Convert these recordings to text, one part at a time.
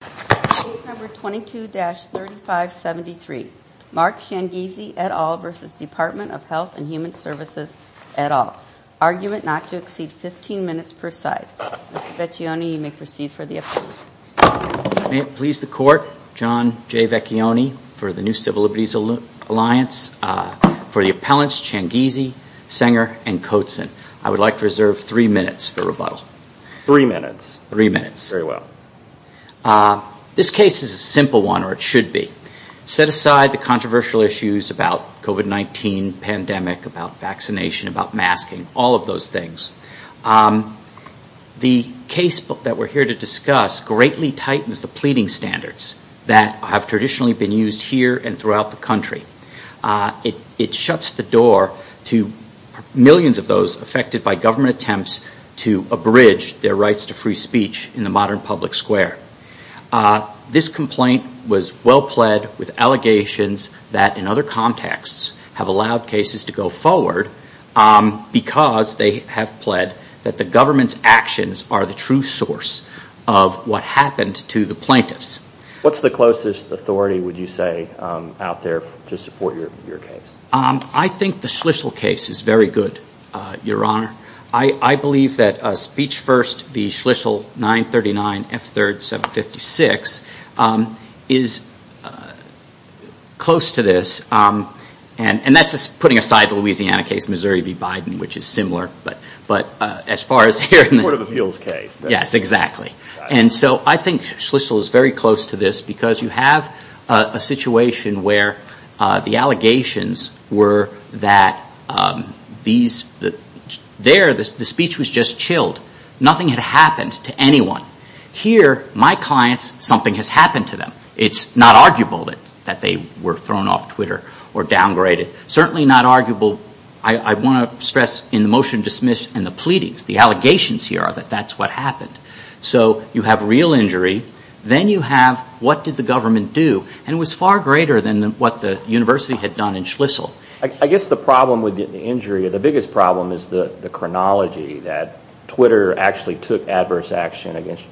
Case number 22-3573. Mark Changizi et al. v. Department of Health and Human Services et al. Argument not to exceed 15 minutes per side. Mr. Vecchione, you may proceed for the appellant. May it please the Court, John J. Vecchione for the New Civil Liberties Alliance. For the appellants, Changizi, Sanger, and Coatsen, I would like to reserve three minutes for rebuttal. Three minutes? Three minutes. Very well. This case is a simple one, or it should be. Set aside the controversial issues about COVID-19, pandemic, about vaccination, about masking, all of those things. The casebook that we're here to discuss greatly tightens the pleading standards that have traditionally been used here and throughout the country. It shuts the door to millions of those affected by government attempts to abridge their rights to free speech in the modern public square. This complaint was well pled with allegations that, in other contexts, have allowed cases to go forward because they have pled that the government's actions are the true source of what happened to the plaintiffs. What's the closest authority, would you say, out there to support your case? I think the Schlissel case is very good, Your Honor. I believe that Speech First v. Schlissel 939 F3rd 756 is close to this. And that's putting aside the Louisiana case, Missouri v. Biden, which is similar. But as far as here in the- Court of Appeals case. Yes, exactly. And so I think Schlissel is very close to this because you have a situation where the allegations were that there, the speech was just chilled. Nothing had happened to anyone. Here, my clients, something has happened to them. It's not arguable that they were thrown off Twitter or downgraded. Certainly not arguable, I want to stress, in the motion to dismiss and the pleadings, the allegations here are that that's what happened. So you have real injury. Then you have what did the government do. And it was far greater than what the university had done in Schlissel. I guess the problem with the injury, the biggest problem is the chronology that Twitter actually took adverse action against,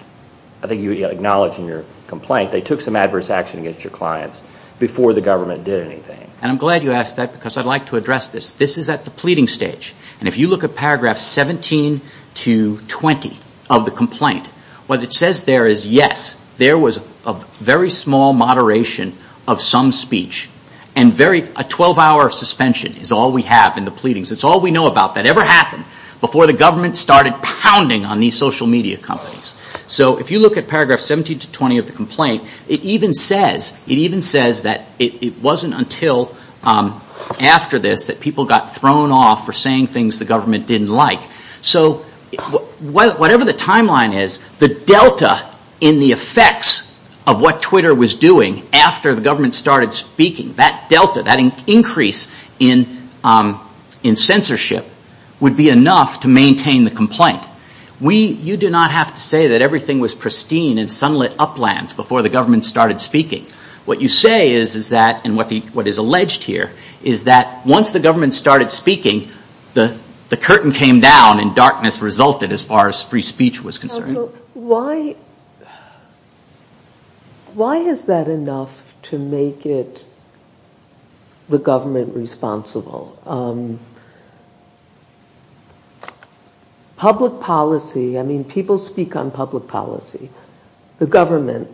I think you acknowledged in your complaint, they took some adverse action against your clients before the government did anything. And I'm glad you asked that because I'd like to address this. This is at the pleading stage. And if you look at paragraph 17 to 20 of the complaint, what it says there is yes, there was a very small moderation of some speech. And a 12-hour suspension is all we have in the pleadings. It's all we know about that ever happened before the government started pounding on these social media companies. So if you look at paragraph 17 to 20 of the complaint, it even says that it wasn't until after this that people got thrown off and started doing things the government didn't like. So whatever the timeline is, the delta in the effects of what Twitter was doing after the government started speaking, that delta, that increase in censorship would be enough to maintain the complaint. You do not have to say that everything was pristine and sunlit uplands before the government started speaking. What you say is that, and what is alleged here, is that once the government started speaking, the curtain came down and darkness resulted as far as free speech was concerned. Why is that enough to make it the government responsible? Public policy, I mean people speak on public policy. The government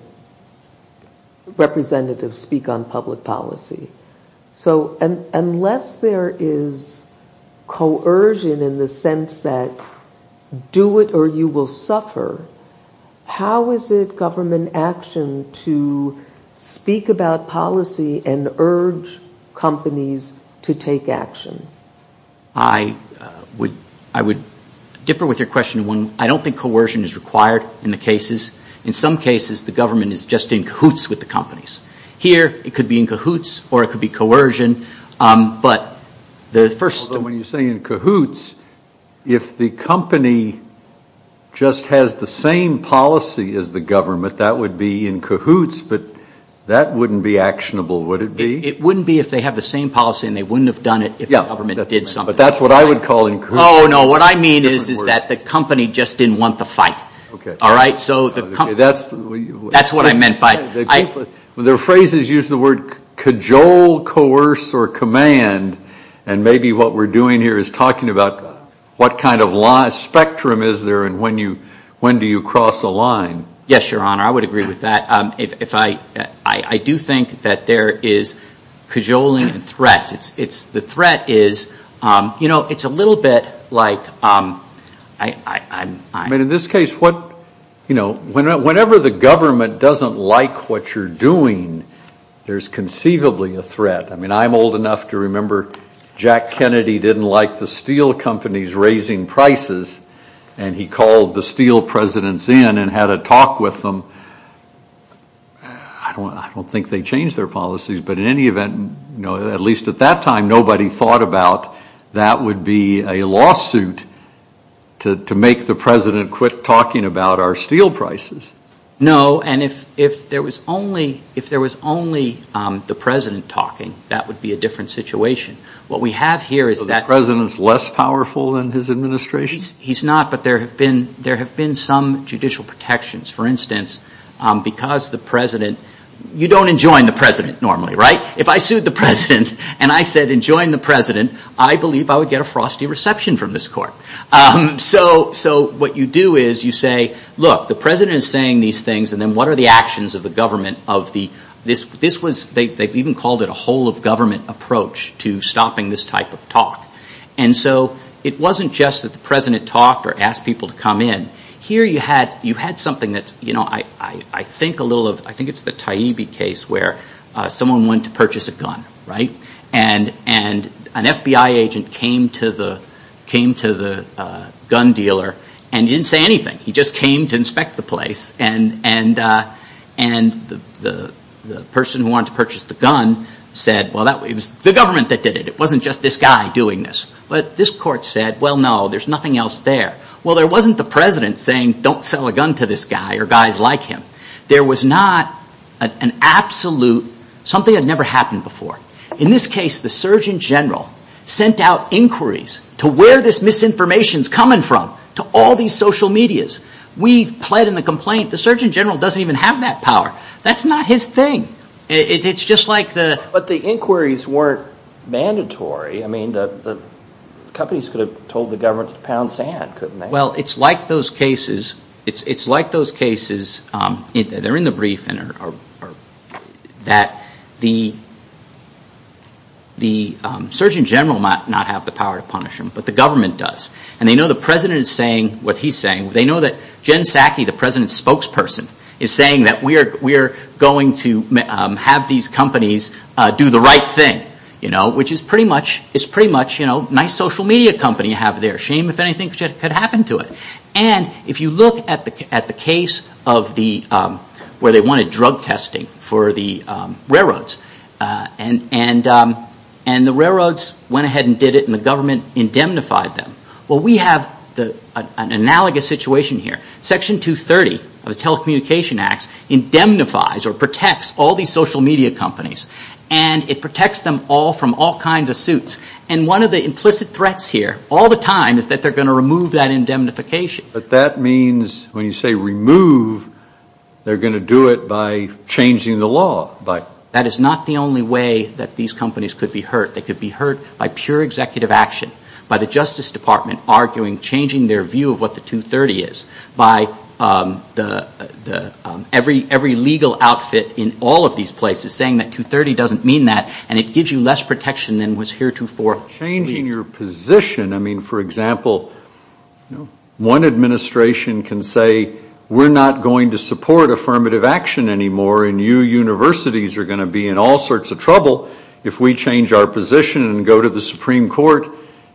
representatives speak on public policy. So unless there is coercion in the sense that do it or you will suffer, how is it government action to speak about policy and urge companies to take action? I would differ with your question. I don't think coercion is required in the cases. In some cases the government is just in cahoots with the companies. Here it could be in cahoots or it could be coercion, but the first... When you say in cahoots, if the company just has the same policy as the government, that would be in cahoots, but that wouldn't be actionable, would it be? It wouldn't be if they have the same policy and they wouldn't have done it if the government did something. But that's what I would call in cahoots. Oh, no, what I mean is that the company just didn't want the fight. Okay. All right? That's what I meant by... Their phrases use the word cajole, coerce, or command, and maybe what we're doing here is talking about what kind of spectrum is there and when do you cross a line. Yes, Your Honor, I would agree with that. I do think that there is cajoling and threats. The threat is, you know, it's a little bit like... I mean in this case, you know, whenever the government doesn't like what you're doing, there's conceivably a threat. I mean I'm old enough to remember Jack Kennedy didn't like the steel companies raising prices and he called the steel presidents in and had a talk with them. I don't think they changed their policies, but in any event, at least at that time nobody thought about that would be a lawsuit to make the president quit talking about our steel prices. No, and if there was only the president talking, that would be a different situation. What we have here is that... So the president's less powerful than his administration? He's not, but there have been some judicial protections. For instance, because the president... You don't enjoin the president normally, right? If I sued the president and I said enjoin the president, I believe I would get a frosty reception from this court. So what you do is you say, look, the president is saying these things and then what are the actions of the government of the... They've even called it a whole of government approach to stopping this type of talk. And so it wasn't just that the president talked or asked people to come in. Here you had something that I think a little of... I think it's the Taibbi case where someone went to purchase a gun, right? And an FBI agent came to the gun dealer and didn't say anything. He just came to inspect the place and the person who wanted to purchase the gun said, well, it was the government that did it. It wasn't just this guy doing this. But this court said, well, no, there's nothing else there. Well, there wasn't the president saying don't sell a gun to this guy or guys like him. There was not an absolute, something that never happened before. In this case, the Surgeon General sent out inquiries to where this misinformation is coming from, to all these social medias. We pled in the complaint, the Surgeon General doesn't even have that power. That's not his thing. It's just like the... But the inquiries weren't mandatory. I mean, the companies could have told the government to pound sand, couldn't they? Well, it's like those cases. It's like those cases. They're in the brief that the Surgeon General might not have the power to punish him, but the government does. And they know the president is saying what he's saying. They know that Jen Psaki, the president's spokesperson, is saying that we're going to have these companies do the right thing, which is pretty much a nice social media company you have there. Shame, if anything, could happen to it. And if you look at the case where they wanted drug testing for the railroads, and the railroads went ahead and did it and the government indemnified them. Well, we have an analogous situation here. Section 230 of the Telecommunication Act indemnifies or protects all these social media companies. And it protects them all from all kinds of suits. And one of the implicit threats here, all the time, is that they're going to remove that indemnification. But that means when you say remove, they're going to do it by changing the law. That is not the only way that these companies could be hurt. They could be hurt by pure executive action, by the Justice Department arguing, changing their view of what the 230 is, by every legal outfit in all of these places saying that 230 doesn't mean that, and it gives you less protection than was heretofore. Changing your position. I mean, for example, one administration can say, we're not going to support affirmative action anymore and you universities are going to be in all sorts of trouble if we change our position and go to the Supreme Court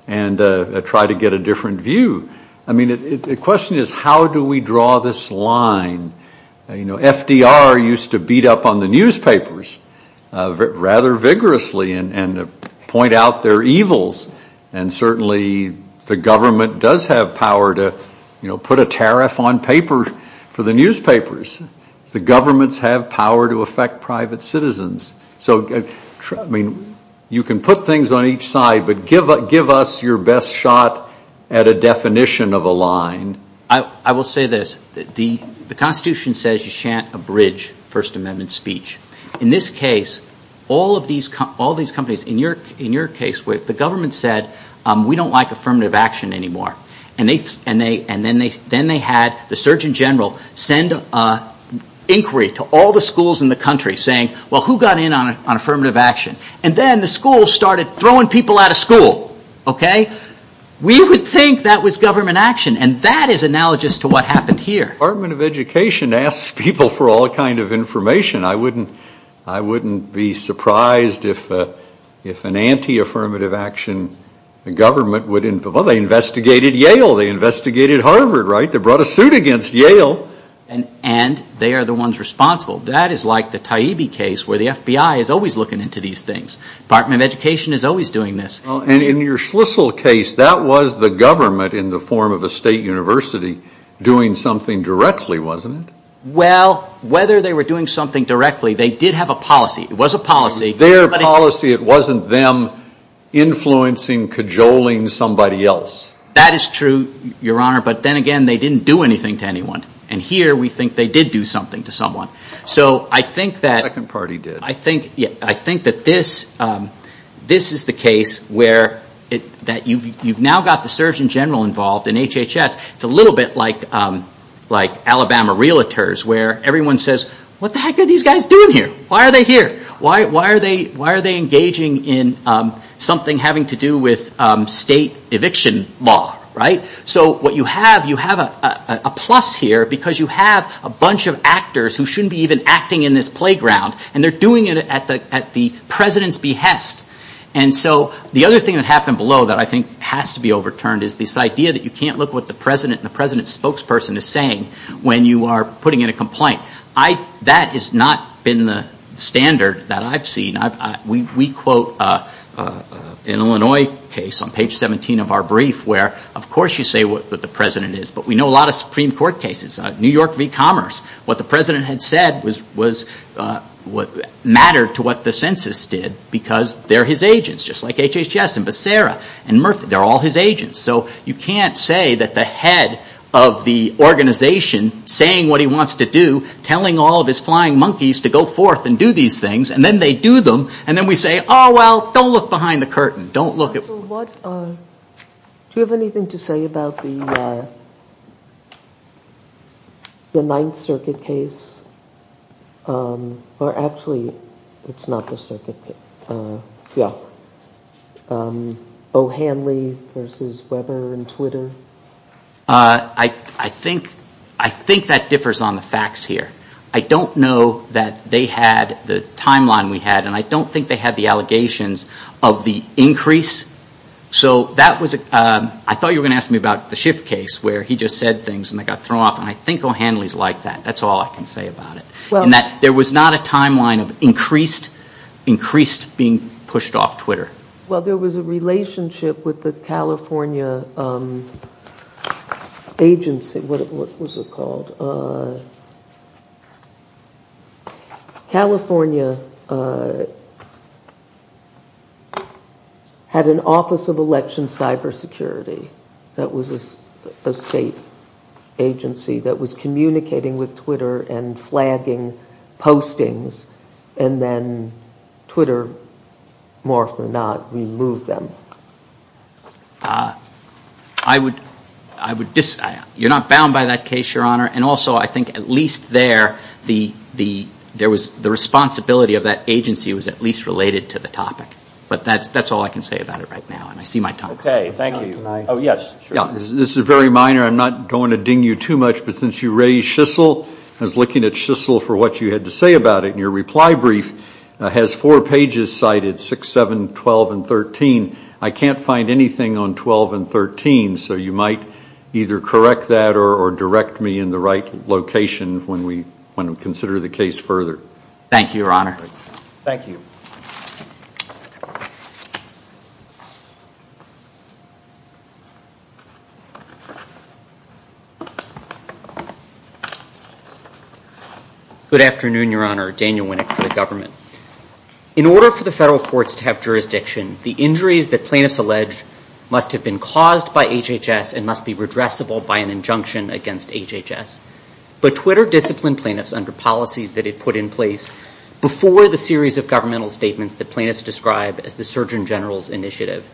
and try to get a different view. I mean, the question is, how do we draw this line? You know, FDR used to beat up on the newspapers rather vigorously and point out their evils. And certainly the government does have power to, you know, put a tariff on paper for the newspapers. The governments have power to affect private citizens. So, I mean, you can put things on each side, but give us your best shot at a definition of a line. I will say this. The Constitution says you chant a bridge, First Amendment speech. In this case, all of these companies, in your case, the government said, we don't like affirmative action anymore. And then they had the Surgeon General send an inquiry to all the schools in the country saying, well, who got in on affirmative action? And then the schools started throwing people out of school. Okay? We would think that was government action. And that is analogous to what happened here. The Department of Education asks people for all kinds of information. I wouldn't be surprised if an anti-affirmative action, the government would, well, they investigated Yale. They investigated Harvard, right? They brought a suit against Yale. And they are the ones responsible. That is like the Taibbi case where the FBI is always looking into these things. Department of Education is always doing this. And in your Schlissel case, that was the government in the form of a state university doing something directly, wasn't it? Well, whether they were doing something directly, they did have a policy. It was a policy. It was their policy. It wasn't them influencing, cajoling somebody else. That is true, Your Honor. But then again, they didn't do anything to anyone. And here we think they did do something to someone. So I think that this is the case where you've now got the Surgeon General involved in HHS. It's a little bit like Alabama Realtors where everyone says, what the heck are these guys doing here? Why are they here? Why are they engaging in something having to do with state eviction law, right? So what you have, you have a plus here because you have a bunch of actors who shouldn't be even acting in this playground. And they're doing it at the President's behest. And so the other thing that happened below that I think has to be overturned is this idea that you can't look at what the President and the President's spokesperson is saying when you are putting in a complaint. That has not been the standard that I've seen. We quote an Illinois case on page 17 of our brief where of course you say what the President is. But we know a lot of Supreme Court cases, New York v. Commerce. What the President had said mattered to what the census did because they're his agents, just like HHS and Becerra and Murphy. They're all his agents. So you can't say that the head of the organization saying what he wants to do, telling all of his flying monkeys to go forth and do these things, and then they do them, and then we say, oh, well, don't look behind the curtain. Don't look at... Do you have anything to say about the Ninth Circuit case? Or actually, it's not the circuit case. Yeah. O'Hanley v. Weber and Twitter. I think that differs on the facts here. I don't know that they had the timeline we had and I don't think they had the allegations of the increase. So that was... I thought you were going to ask me about the Schiff case where he just said things and they got thrown off. And I think O'Hanley is like that. That's all I can say about it. There was not a timeline of increased being pushed off Twitter. What was it called? California had an Office of Election Cybersecurity. That was a state agency that was communicating with Twitter and flagging postings and then Twitter, more often than not, removed them. I would... You're not bound by that case, Your Honor, and also I think at least there, the responsibility of that agency was at least related to the topic. But that's all I can say about it right now and I see my time. Okay. Thank you. This is very minor. I'm not going to ding you too much, but since you raised Schissel, I was looking at Schissel for what you had to say about it and your reply brief has four pages cited, 6, 7, 12, and 13. I can't find anything on 12 and 13, so you might either correct that or direct me in the right location when we consider the case further. Thank you, Your Honor. Thank you. Good afternoon, Your Honor. Daniel Winnick for the government. In order for the federal courts to have jurisdiction, the injuries that plaintiffs allege must have been caused by HHS and must be redressable by an injunction against HHS. But Twitter disciplined plaintiffs under policies that it put in place before the series of governmental statements that plaintiffs describe as the Surgeon General's initiative.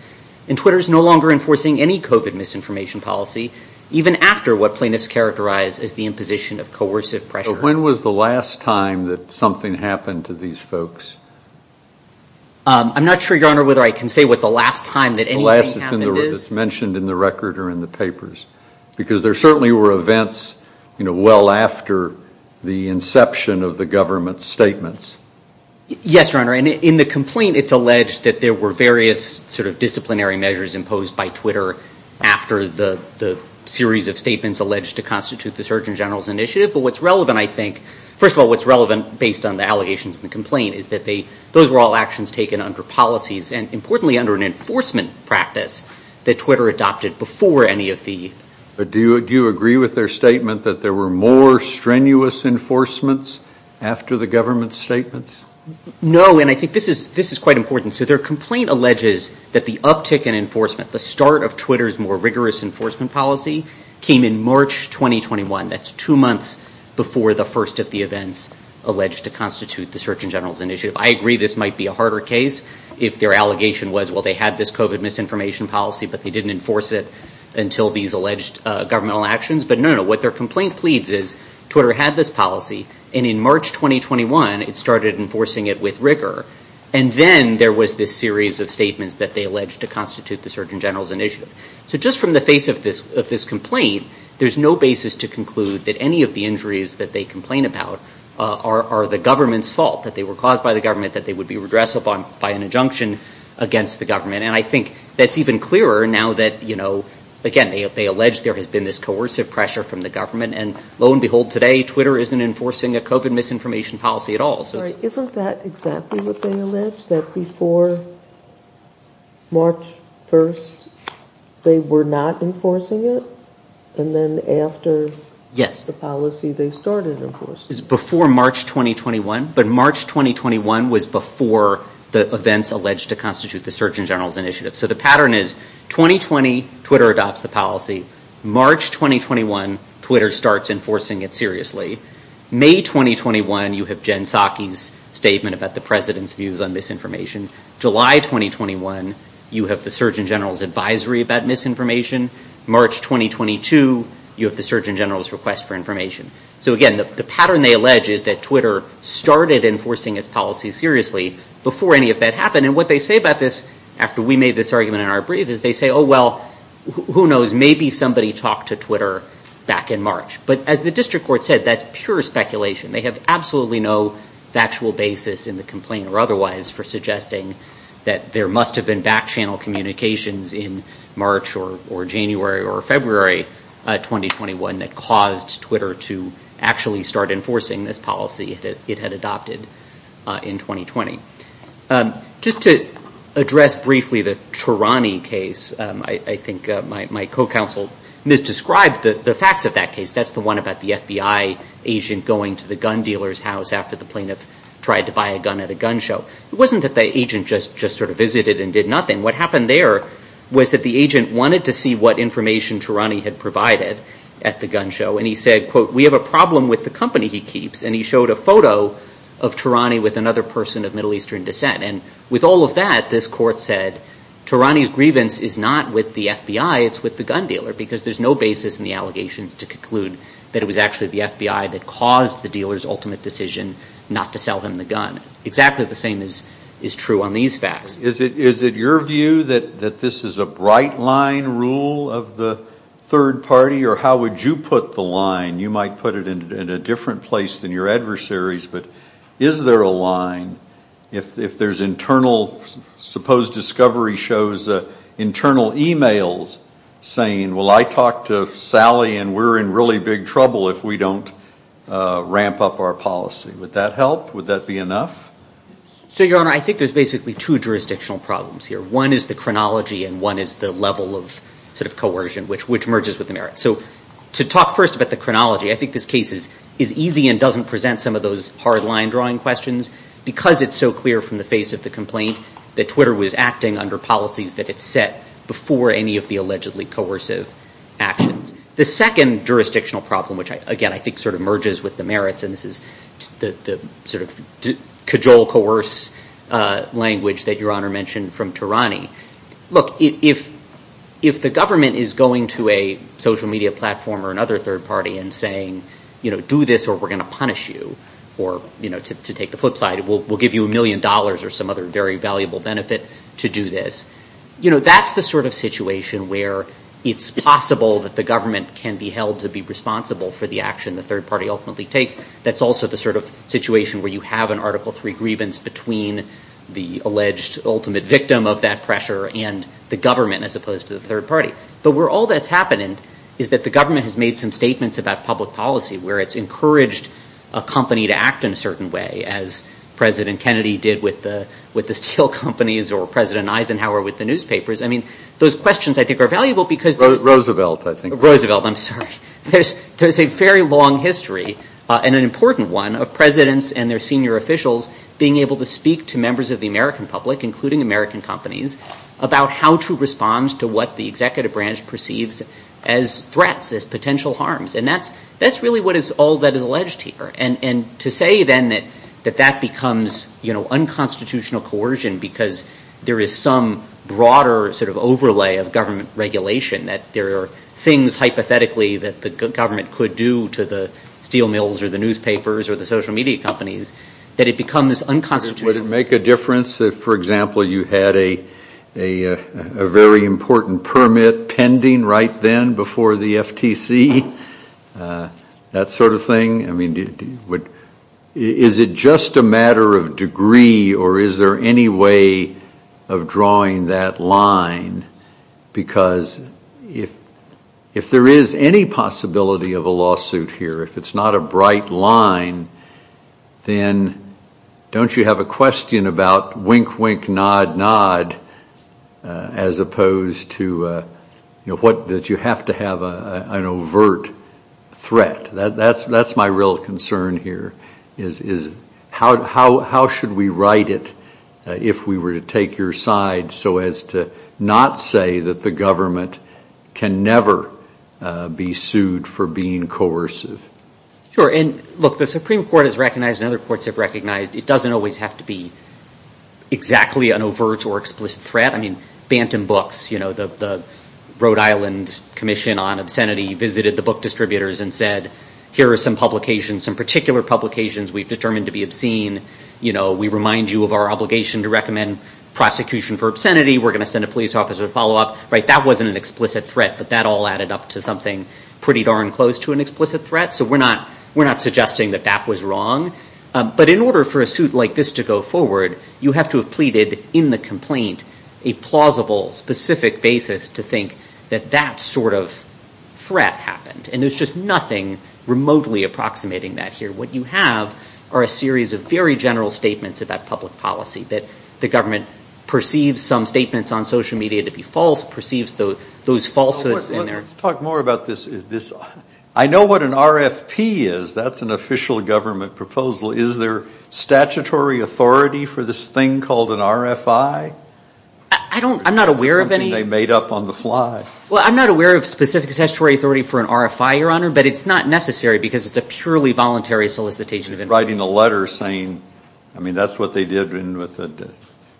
And Twitter is no longer enforcing any COVID misinformation policy even after what plaintiffs characterize as the imposition of coercive pressure. So when was the last time that something happened to these folks? I'm not sure, Your Honor, whether I can say what the last time that anything happened is. The last that's mentioned in the record or in the papers. Because there certainly were events, you know, well after the inception of the government's statements. Yes, Your Honor. And in the complaint, it's alleged that there were various sort of disciplinary measures imposed by Twitter after the series of statements alleged to constitute the Surgeon General's initiative. But what's relevant, I think, first of all, what's relevant based on the allegations in the complaint is that those were all actions taken under policies and importantly under an enforcement practice that Twitter adopted before any of the... But do you agree with their statement that there were more strenuous enforcements after the government's statements? No, and I think this is quite important. So their complaint alleges that the uptick in enforcement, the start of Twitter's more rigorous enforcement policy came in March 2021. That's two months before the first of the events alleged to constitute the Surgeon General's initiative. I agree this might be a harder case if their allegation was, well, they had this COVID misinformation policy but they didn't enforce it until these alleged governmental actions. But no, no, what their complaint pleads is Twitter had this policy and in March 2021 it started enforcing it with rigor. And then there was this series of statements that they alleged to constitute the Surgeon General's initiative. So just from the face of this complaint, there's no basis to conclude that any of the injuries that they complain about are the government's fault, that they were caused by the government, that they would be redressed by an injunction against the government. And I think that's even clearer now that, you know, again, they allege there has been this coercive pressure from the government. And lo and behold, today, Twitter isn't enforcing a COVID misinformation policy at all. Isn't that exactly what they allege? That before March 1st, they were not enforcing it? And then after... It's before March 2021, but March 2021 was before the events alleged to constitute the Surgeon General's initiative. So the pattern is 2020, Twitter adopts the policy. March 2021, Twitter starts enforcing it seriously. May 2021, you have Jen Psaki's statement about the President's views on misinformation. July 2021, you have the Surgeon General's advisory about misinformation. March 2022, you have the Surgeon General's request for information. So, again, the pattern they allege is that Twitter started enforcing its policy seriously before any of that happened. And what they say about this after we made this argument in our brief is they say, oh, well, who knows, maybe somebody talked to Twitter back in March. But as the district court said, that's pure speculation. They have absolutely no factual basis in the complaint or otherwise for suggesting that there must have been back-channel communications in March or January or February 2021 that caused Twitter to actually start enforcing this policy it had adopted in 2020. Just to address briefly the Tarani case, I think my co-counsel misdescribed the facts of that case. That's the one about the FBI agent going to the gun dealer's house after the plaintiff tried to buy a gun at a gun show. It wasn't that the agent just sort of visited and did nothing. What happened there was that the agent wanted to see what information Tarani had provided at the gun show, and he said, quote, we have a problem with the company he keeps. And he showed a photo of Tarani with another person of Middle Eastern descent. And with all of that, this court said Tarani's grievance is not with the FBI, it's with the gun dealer because there's no basis in the allegations to conclude that it was actually the FBI that caused the dealer's ultimate decision not to sell him the gun. Exactly the same is true on these facts. Is it your view that this is a bright line rule of the third party, or how would you put the line? You might put it in a different place than your adversaries, but is there a line if there's internal, suppose Discovery shows internal e-mails saying, well, I talked to Sally and we're in really big trouble if we don't ramp up our policy. Would that help? Would that be enough? So, Your Honor, I think there's basically two jurisdictional problems here. One is the chronology, and one is the level of sort of coercion, which merges with the merits. So to talk first about the chronology, I think this case is easy and doesn't present some of those hard line drawing questions because it's so clear from the face of the complaint that Twitter was acting under policies that it set before any of the allegedly coercive actions. The second jurisdictional problem, which again I think sort of merges with the merits, and this is the sort of cajole, coerce language that Your Honor mentioned from Tarani. Look, if the government is going to a social media platform or another third party and saying, you know, do this or we're going to punish you or, you know, to take the flip side, we'll give you a million dollars or some other very valuable benefit to do this. You know, that's the sort of situation where it's possible that the government can be held to be responsible for the action that the third party ultimately takes. That's also the sort of situation where you have an Article III grievance between the alleged ultimate victim of that pressure and the government as opposed to the third party. But where all that's happened is that the government has made some statements about public policy where it's encouraged a company to act in a certain way as President Kennedy did with the steel companies or President Eisenhower with the newspapers. I mean, those questions I think are valuable because... Roosevelt, I think. Roosevelt, I'm sorry. He has a long history and an important one of presidents and their senior officials being able to speak to members of the American public, including American companies, about how to respond to what the executive branch perceives as threats, as potential harms. And that's really what is all that is alleged here. And to say then that that becomes, you know, unconstitutional coercion because there is some broader sort of overlay of government regulation, that there are things hypothetically that the government could do to the steel mills or the newspapers or the social media companies, that it becomes unconstitutional. Would it make a difference if, for example, you had a very important permit pending right then before the FTC? That sort of thing? I mean, is it just a matter of degree or is there any way of drawing that line? Because if there is any possibility of a lawsuit here, if it's not a bright line, then don't you have a question about wink, wink, nod, nod as opposed to, you know, that you have to have an overt threat. That's my real concern here is how should we write it if we were to take your side so as to not say that the government can never be sued for being coercive? Sure. And look, the Supreme Court has recognized and other courts have recognized it doesn't always have to be exactly an overt or explicit threat. I mean, Bantam Books, you know, the Rhode Island Commission on Obscenity visited the book distributors and said, here are some publications, some particular publications we've determined to be obscene. You know, we remind you of our obligation to recommend prosecution for obscenity. We're going to send a police officer to follow up. Right? That wasn't an explicit threat, but that all added up to something pretty darn close to an explicit threat. So we're not suggesting that that was wrong. But in order for a suit like this to go forward, you have to have pleaded in the complaint a plausible, specific basis to think that that sort of threat happened. And there's just nothing remotely approximating that here. What you have are a series of very general statements about public policy, that the government perceives some statements on social media to be false, perceives those falsehoods in there. Well, let's talk more about this. I know what an RFP is. That's an official government proposal. Is there statutory authority for this thing called an RFI? I don't, I'm not aware of any. Something they made up on the fly. Well, I'm not aware of specific statutory authority for an RFI, Your Honor, but it's not necessary because it's a purely voluntary solicitation. He's writing a letter saying, I mean, that's what they did with the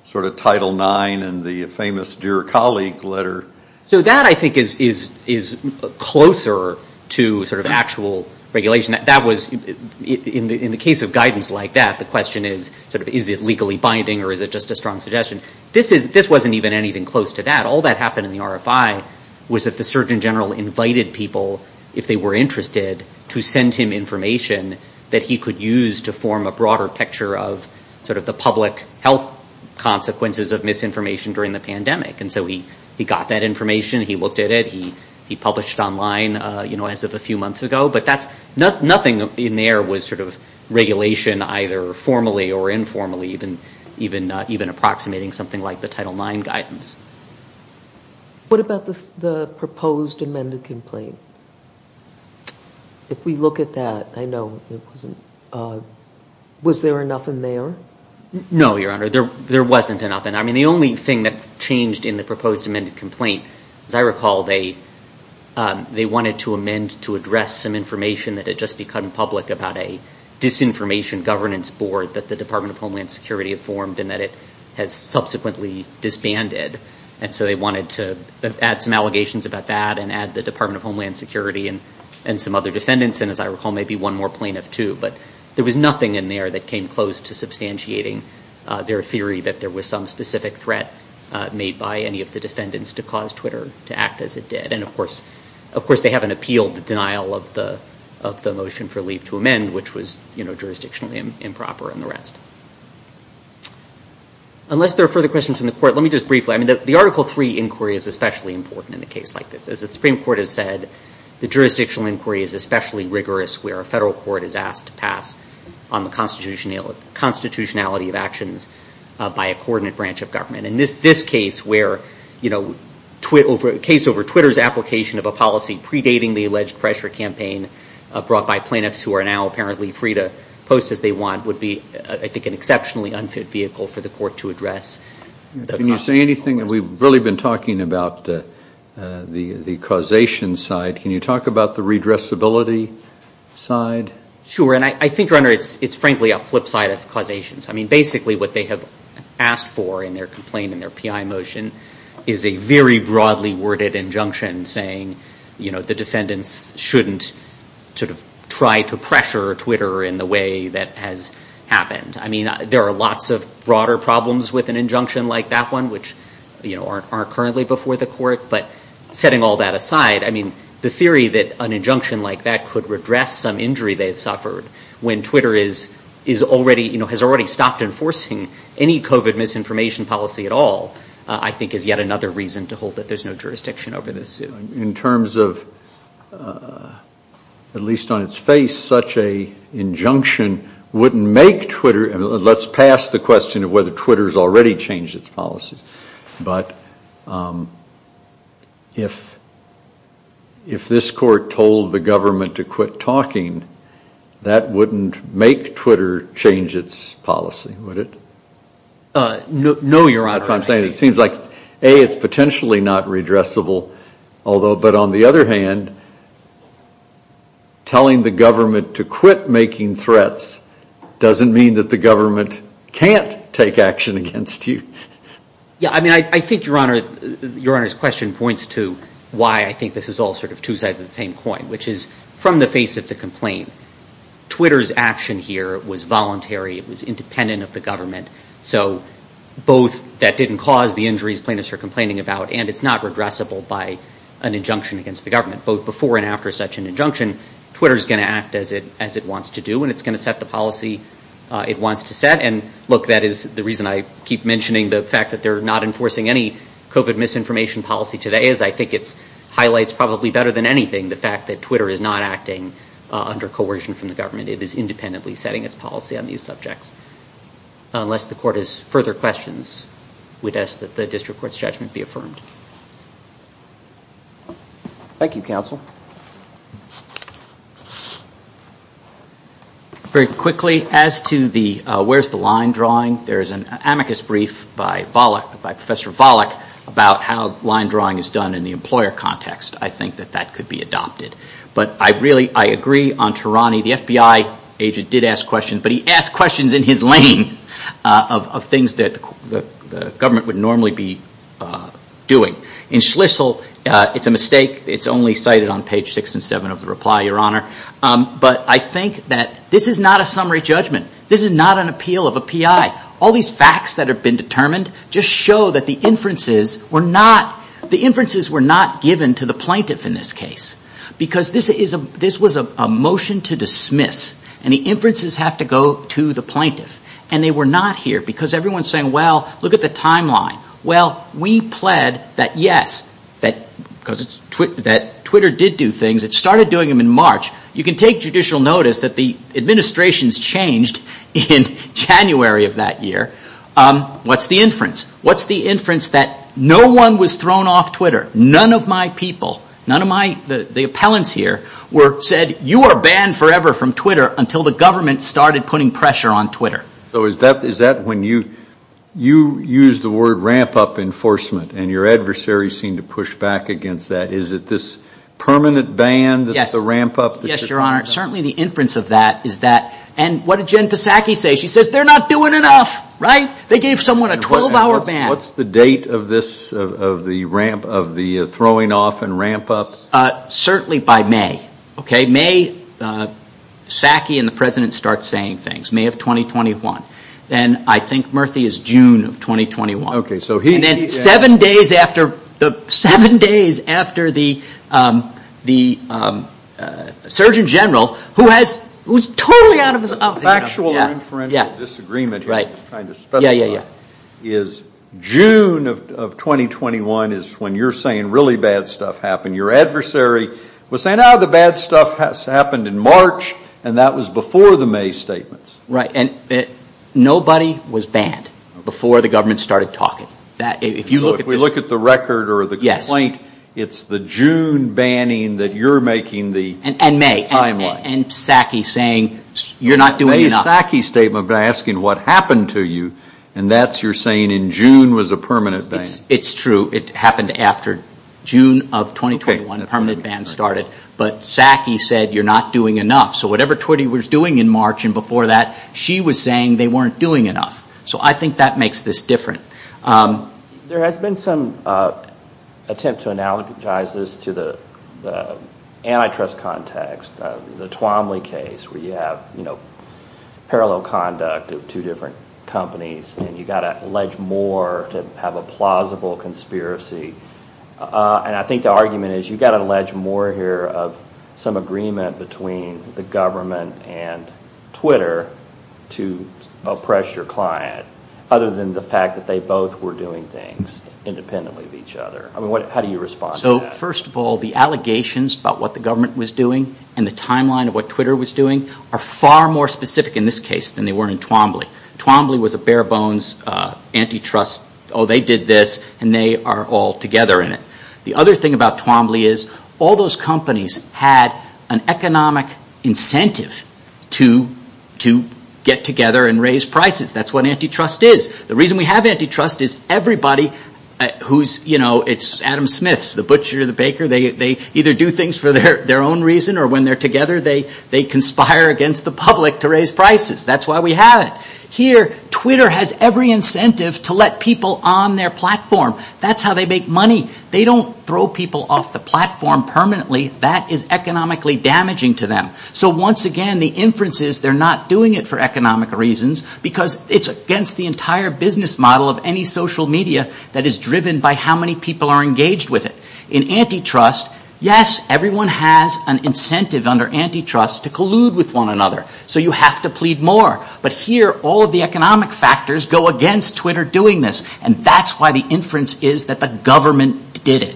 sort of Title IX and the famous Dear Colleague letter. So that, I think, is closer to sort of actual regulation. That was, in the case of guidance like that, the question is sort of is it legally binding or is it just a strong suggestion? This wasn't even anything close to that. All that happened in the RFI was that the Surgeon General invited people, if they were interested, to send him information that he could use to form a broader picture of sort of the public health consequences of misinformation during the pandemic. And so he got that information. He looked at it. He published online, you know, as of a few months ago. But that's, nothing in there was sort of regulation either formally or informally, even approximating something like the Title IX guidance. What about the proposed amended complaint? If we look at that, I know it wasn't, was there enough in there? No, Your Honor, there wasn't enough in there. I mean, the only thing that changed in the proposed amended complaint, as I recall, they wanted to amend to address some information that had just become public about a disinformation governance board that the Department of Homeland Security had formed and that it had subsequently disbanded. And so they wanted to add some allegations about that and add the Department of Homeland Security and some other defendants. And as I recall, maybe one more plaintiff, too. But there was nothing in there that came close to substantiating their theory that there was some specific threat made by any of the defendants to cause Twitter to act as it did. And, of course, they haven't appealed the denial of the motion for leave to amend, which was, you know, jurisdictionally improper and the rest. Unless there are further questions from the Court, let me just briefly, I mean, the Article III inquiry is especially important in a case like this. As the Supreme Court has said, the jurisdictional inquiry is especially rigorous where a federal court is asked to pass on the constitutionality of actions by a coordinate branch of government. And this case where, you know, case over Twitter's application of a policy predating the alleged pressure campaign brought by plaintiffs who are now apparently free to post as they want would be, I think, an exceptionally unfit vehicle for the Court to address. Can you say anything? We've really been talking about the causation side. Can you talk about the redressability side? Sure. And I think, Your Honor, it's frankly a flip side of causations. I mean, basically what they have asked for in their complaint in their PI motion is a very broadly worded injunction saying, you know, the defendants shouldn't sort of try to pressure Twitter in the way that has happened. I mean, there are lots of broader problems with an injunction like that one, which, you know, aren't currently before the Court. But setting all that aside, I mean, the theory that an injunction like that could redress some injury they've suffered when Twitter is already, you know, has already stopped enforcing any COVID misinformation policy at all, I think is yet another reason to hold that there's no jurisdiction over this suit. In terms of, at least on its face, such an injunction wouldn't make Twitter, and let's pass the question of whether Twitter has already changed its policies, but if this Court told the government to quit talking, that wouldn't make Twitter change its policy, would it? No, Your Honor. That's what I'm saying. It seems like, A, it's potentially not redressable, although, but on the other hand, telling the government to quit making threats doesn't mean that the government can't take action against you. Yeah, I mean, I think, Your Honor, Your Honor's question points to why I think this is all sort of two sides of the same coin, which is, from the face of the complaint, Twitter's action here was voluntary. It was independent of the government. So both that didn't cause the injuries plaintiffs are complaining about, and it's not redressable by an injunction against the government. Both before and after such an injunction, Twitter's going to act as it wants to do, and it's going to set the policy it wants to set. And, look, that is the reason I keep mentioning the fact that they're not enforcing any COVID misinformation policy today is I think it highlights probably better than anything the fact that Twitter is not acting under coercion from the government. It is independently setting its policy on these subjects. Unless the Court has further questions, we'd ask that the District Court's judgment be affirmed. Thank you, Counsel. Very quickly, as to the where's the line drawing, there is an amicus brief by Volokh, by Professor Volokh about how line drawing is done in the employer context. I think that that could be adopted. But I really, I agree on Tarani. The FBI agent did ask questions, but he asked questions in his lane of things that the government would normally be doing. In Schlissel, it's a mistake. It's only cited on page six and seven of the reply, Your Honor. But I think that this is not a summary judgment. This is not an appeal of a PI. All these facts that have been determined just show that the inferences were not given to the plaintiff in this case because this was a motion to dismiss. And the inferences have to go to the plaintiff. And they were not here because everyone's saying, well, look at the timeline. Well, we pled that yes, because Twitter did do things. It started doing them in March. You can take judicial notice that the administration's changed in January of that year. What's the inference? What's the inference that no one was thrown off Twitter? None of my people, none of my, the appellants here said, you are banned forever from Twitter until the government started putting pressure on Twitter. So is that when you use the word ramp-up enforcement and your adversaries seem to push back against that? Is it this permanent ban that's a ramp-up? Yes, Your Honor. Certainly the inference of that is that, and what did Jen Psaki say? She says they're not doing enough, right? They gave someone a 12-hour ban. What's the date of this, of the throwing off and ramp-ups? Certainly by May. May, Psaki and the President start saying things. May of 2021. And I think Murthy is June of 2021. And then seven days after the Surgeon General, who's totally out of his... Factual or inferential disagreement here, I'm just trying to spell it out, is June of 2021 is when you're saying really bad stuff happened. Your adversary was saying, oh, the bad stuff happened in March, and that was before the May statements. Right, and nobody was banned before the government started talking. If you look at this... If we look at the record or the complaint, it's the June banning that you're making the timeline. And May, and Psaki saying, you're not doing enough. May's Psaki statement was asking, what happened to you? And that's, you're saying, in June was a permanent ban. It's true. It happened after June of 2021, a permanent ban started. But Psaki said, you're not doing enough. So whatever Twitty was doing in March and before that, she was saying they weren't doing enough. So I think that makes this different. There has been some attempt to analogize this to the antitrust context, the Twomley case, where you have parallel conduct of two different companies, and you've got to allege more to have a plausible conspiracy. And I think the argument is you've got to allege more here of some agreement between the government and Twitter to oppress your client, other than the fact that they both were doing things independently of each other. I mean, how do you respond to that? So first of all, the allegations about what the government was doing and the timeline of what Twitter was doing are far more specific in this case than they were in Twomley. Twomley was a bare bones antitrust, oh, they did this, and they are all together in it. The other thing about Twomley is all those companies had an economic incentive to get together and raise prices. That's what antitrust is. The reason we have antitrust is everybody who's, you know, it's Adam Smith, the butcher, the baker, they either do things for their own reason or when they're together they conspire against the public to raise prices. That's why we have it. Here, Twitter has every incentive to let people on their platform. That's how they make money. They don't throw people off the platform permanently. That is economically damaging to them. So once again, the inference is they're not doing it for economic reasons because it's against the entire business model of any social media that is driven by how many people are engaged with it. In antitrust, yes, everyone has an incentive under antitrust to collude with one another. So you have to plead more. But here, all of the economic factors go against Twitter doing this. And that's why the inference is that the government did it.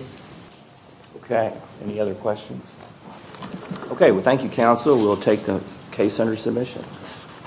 Okay. Any other questions? Okay. Well, thank you, counsel. We'll take the case under submission.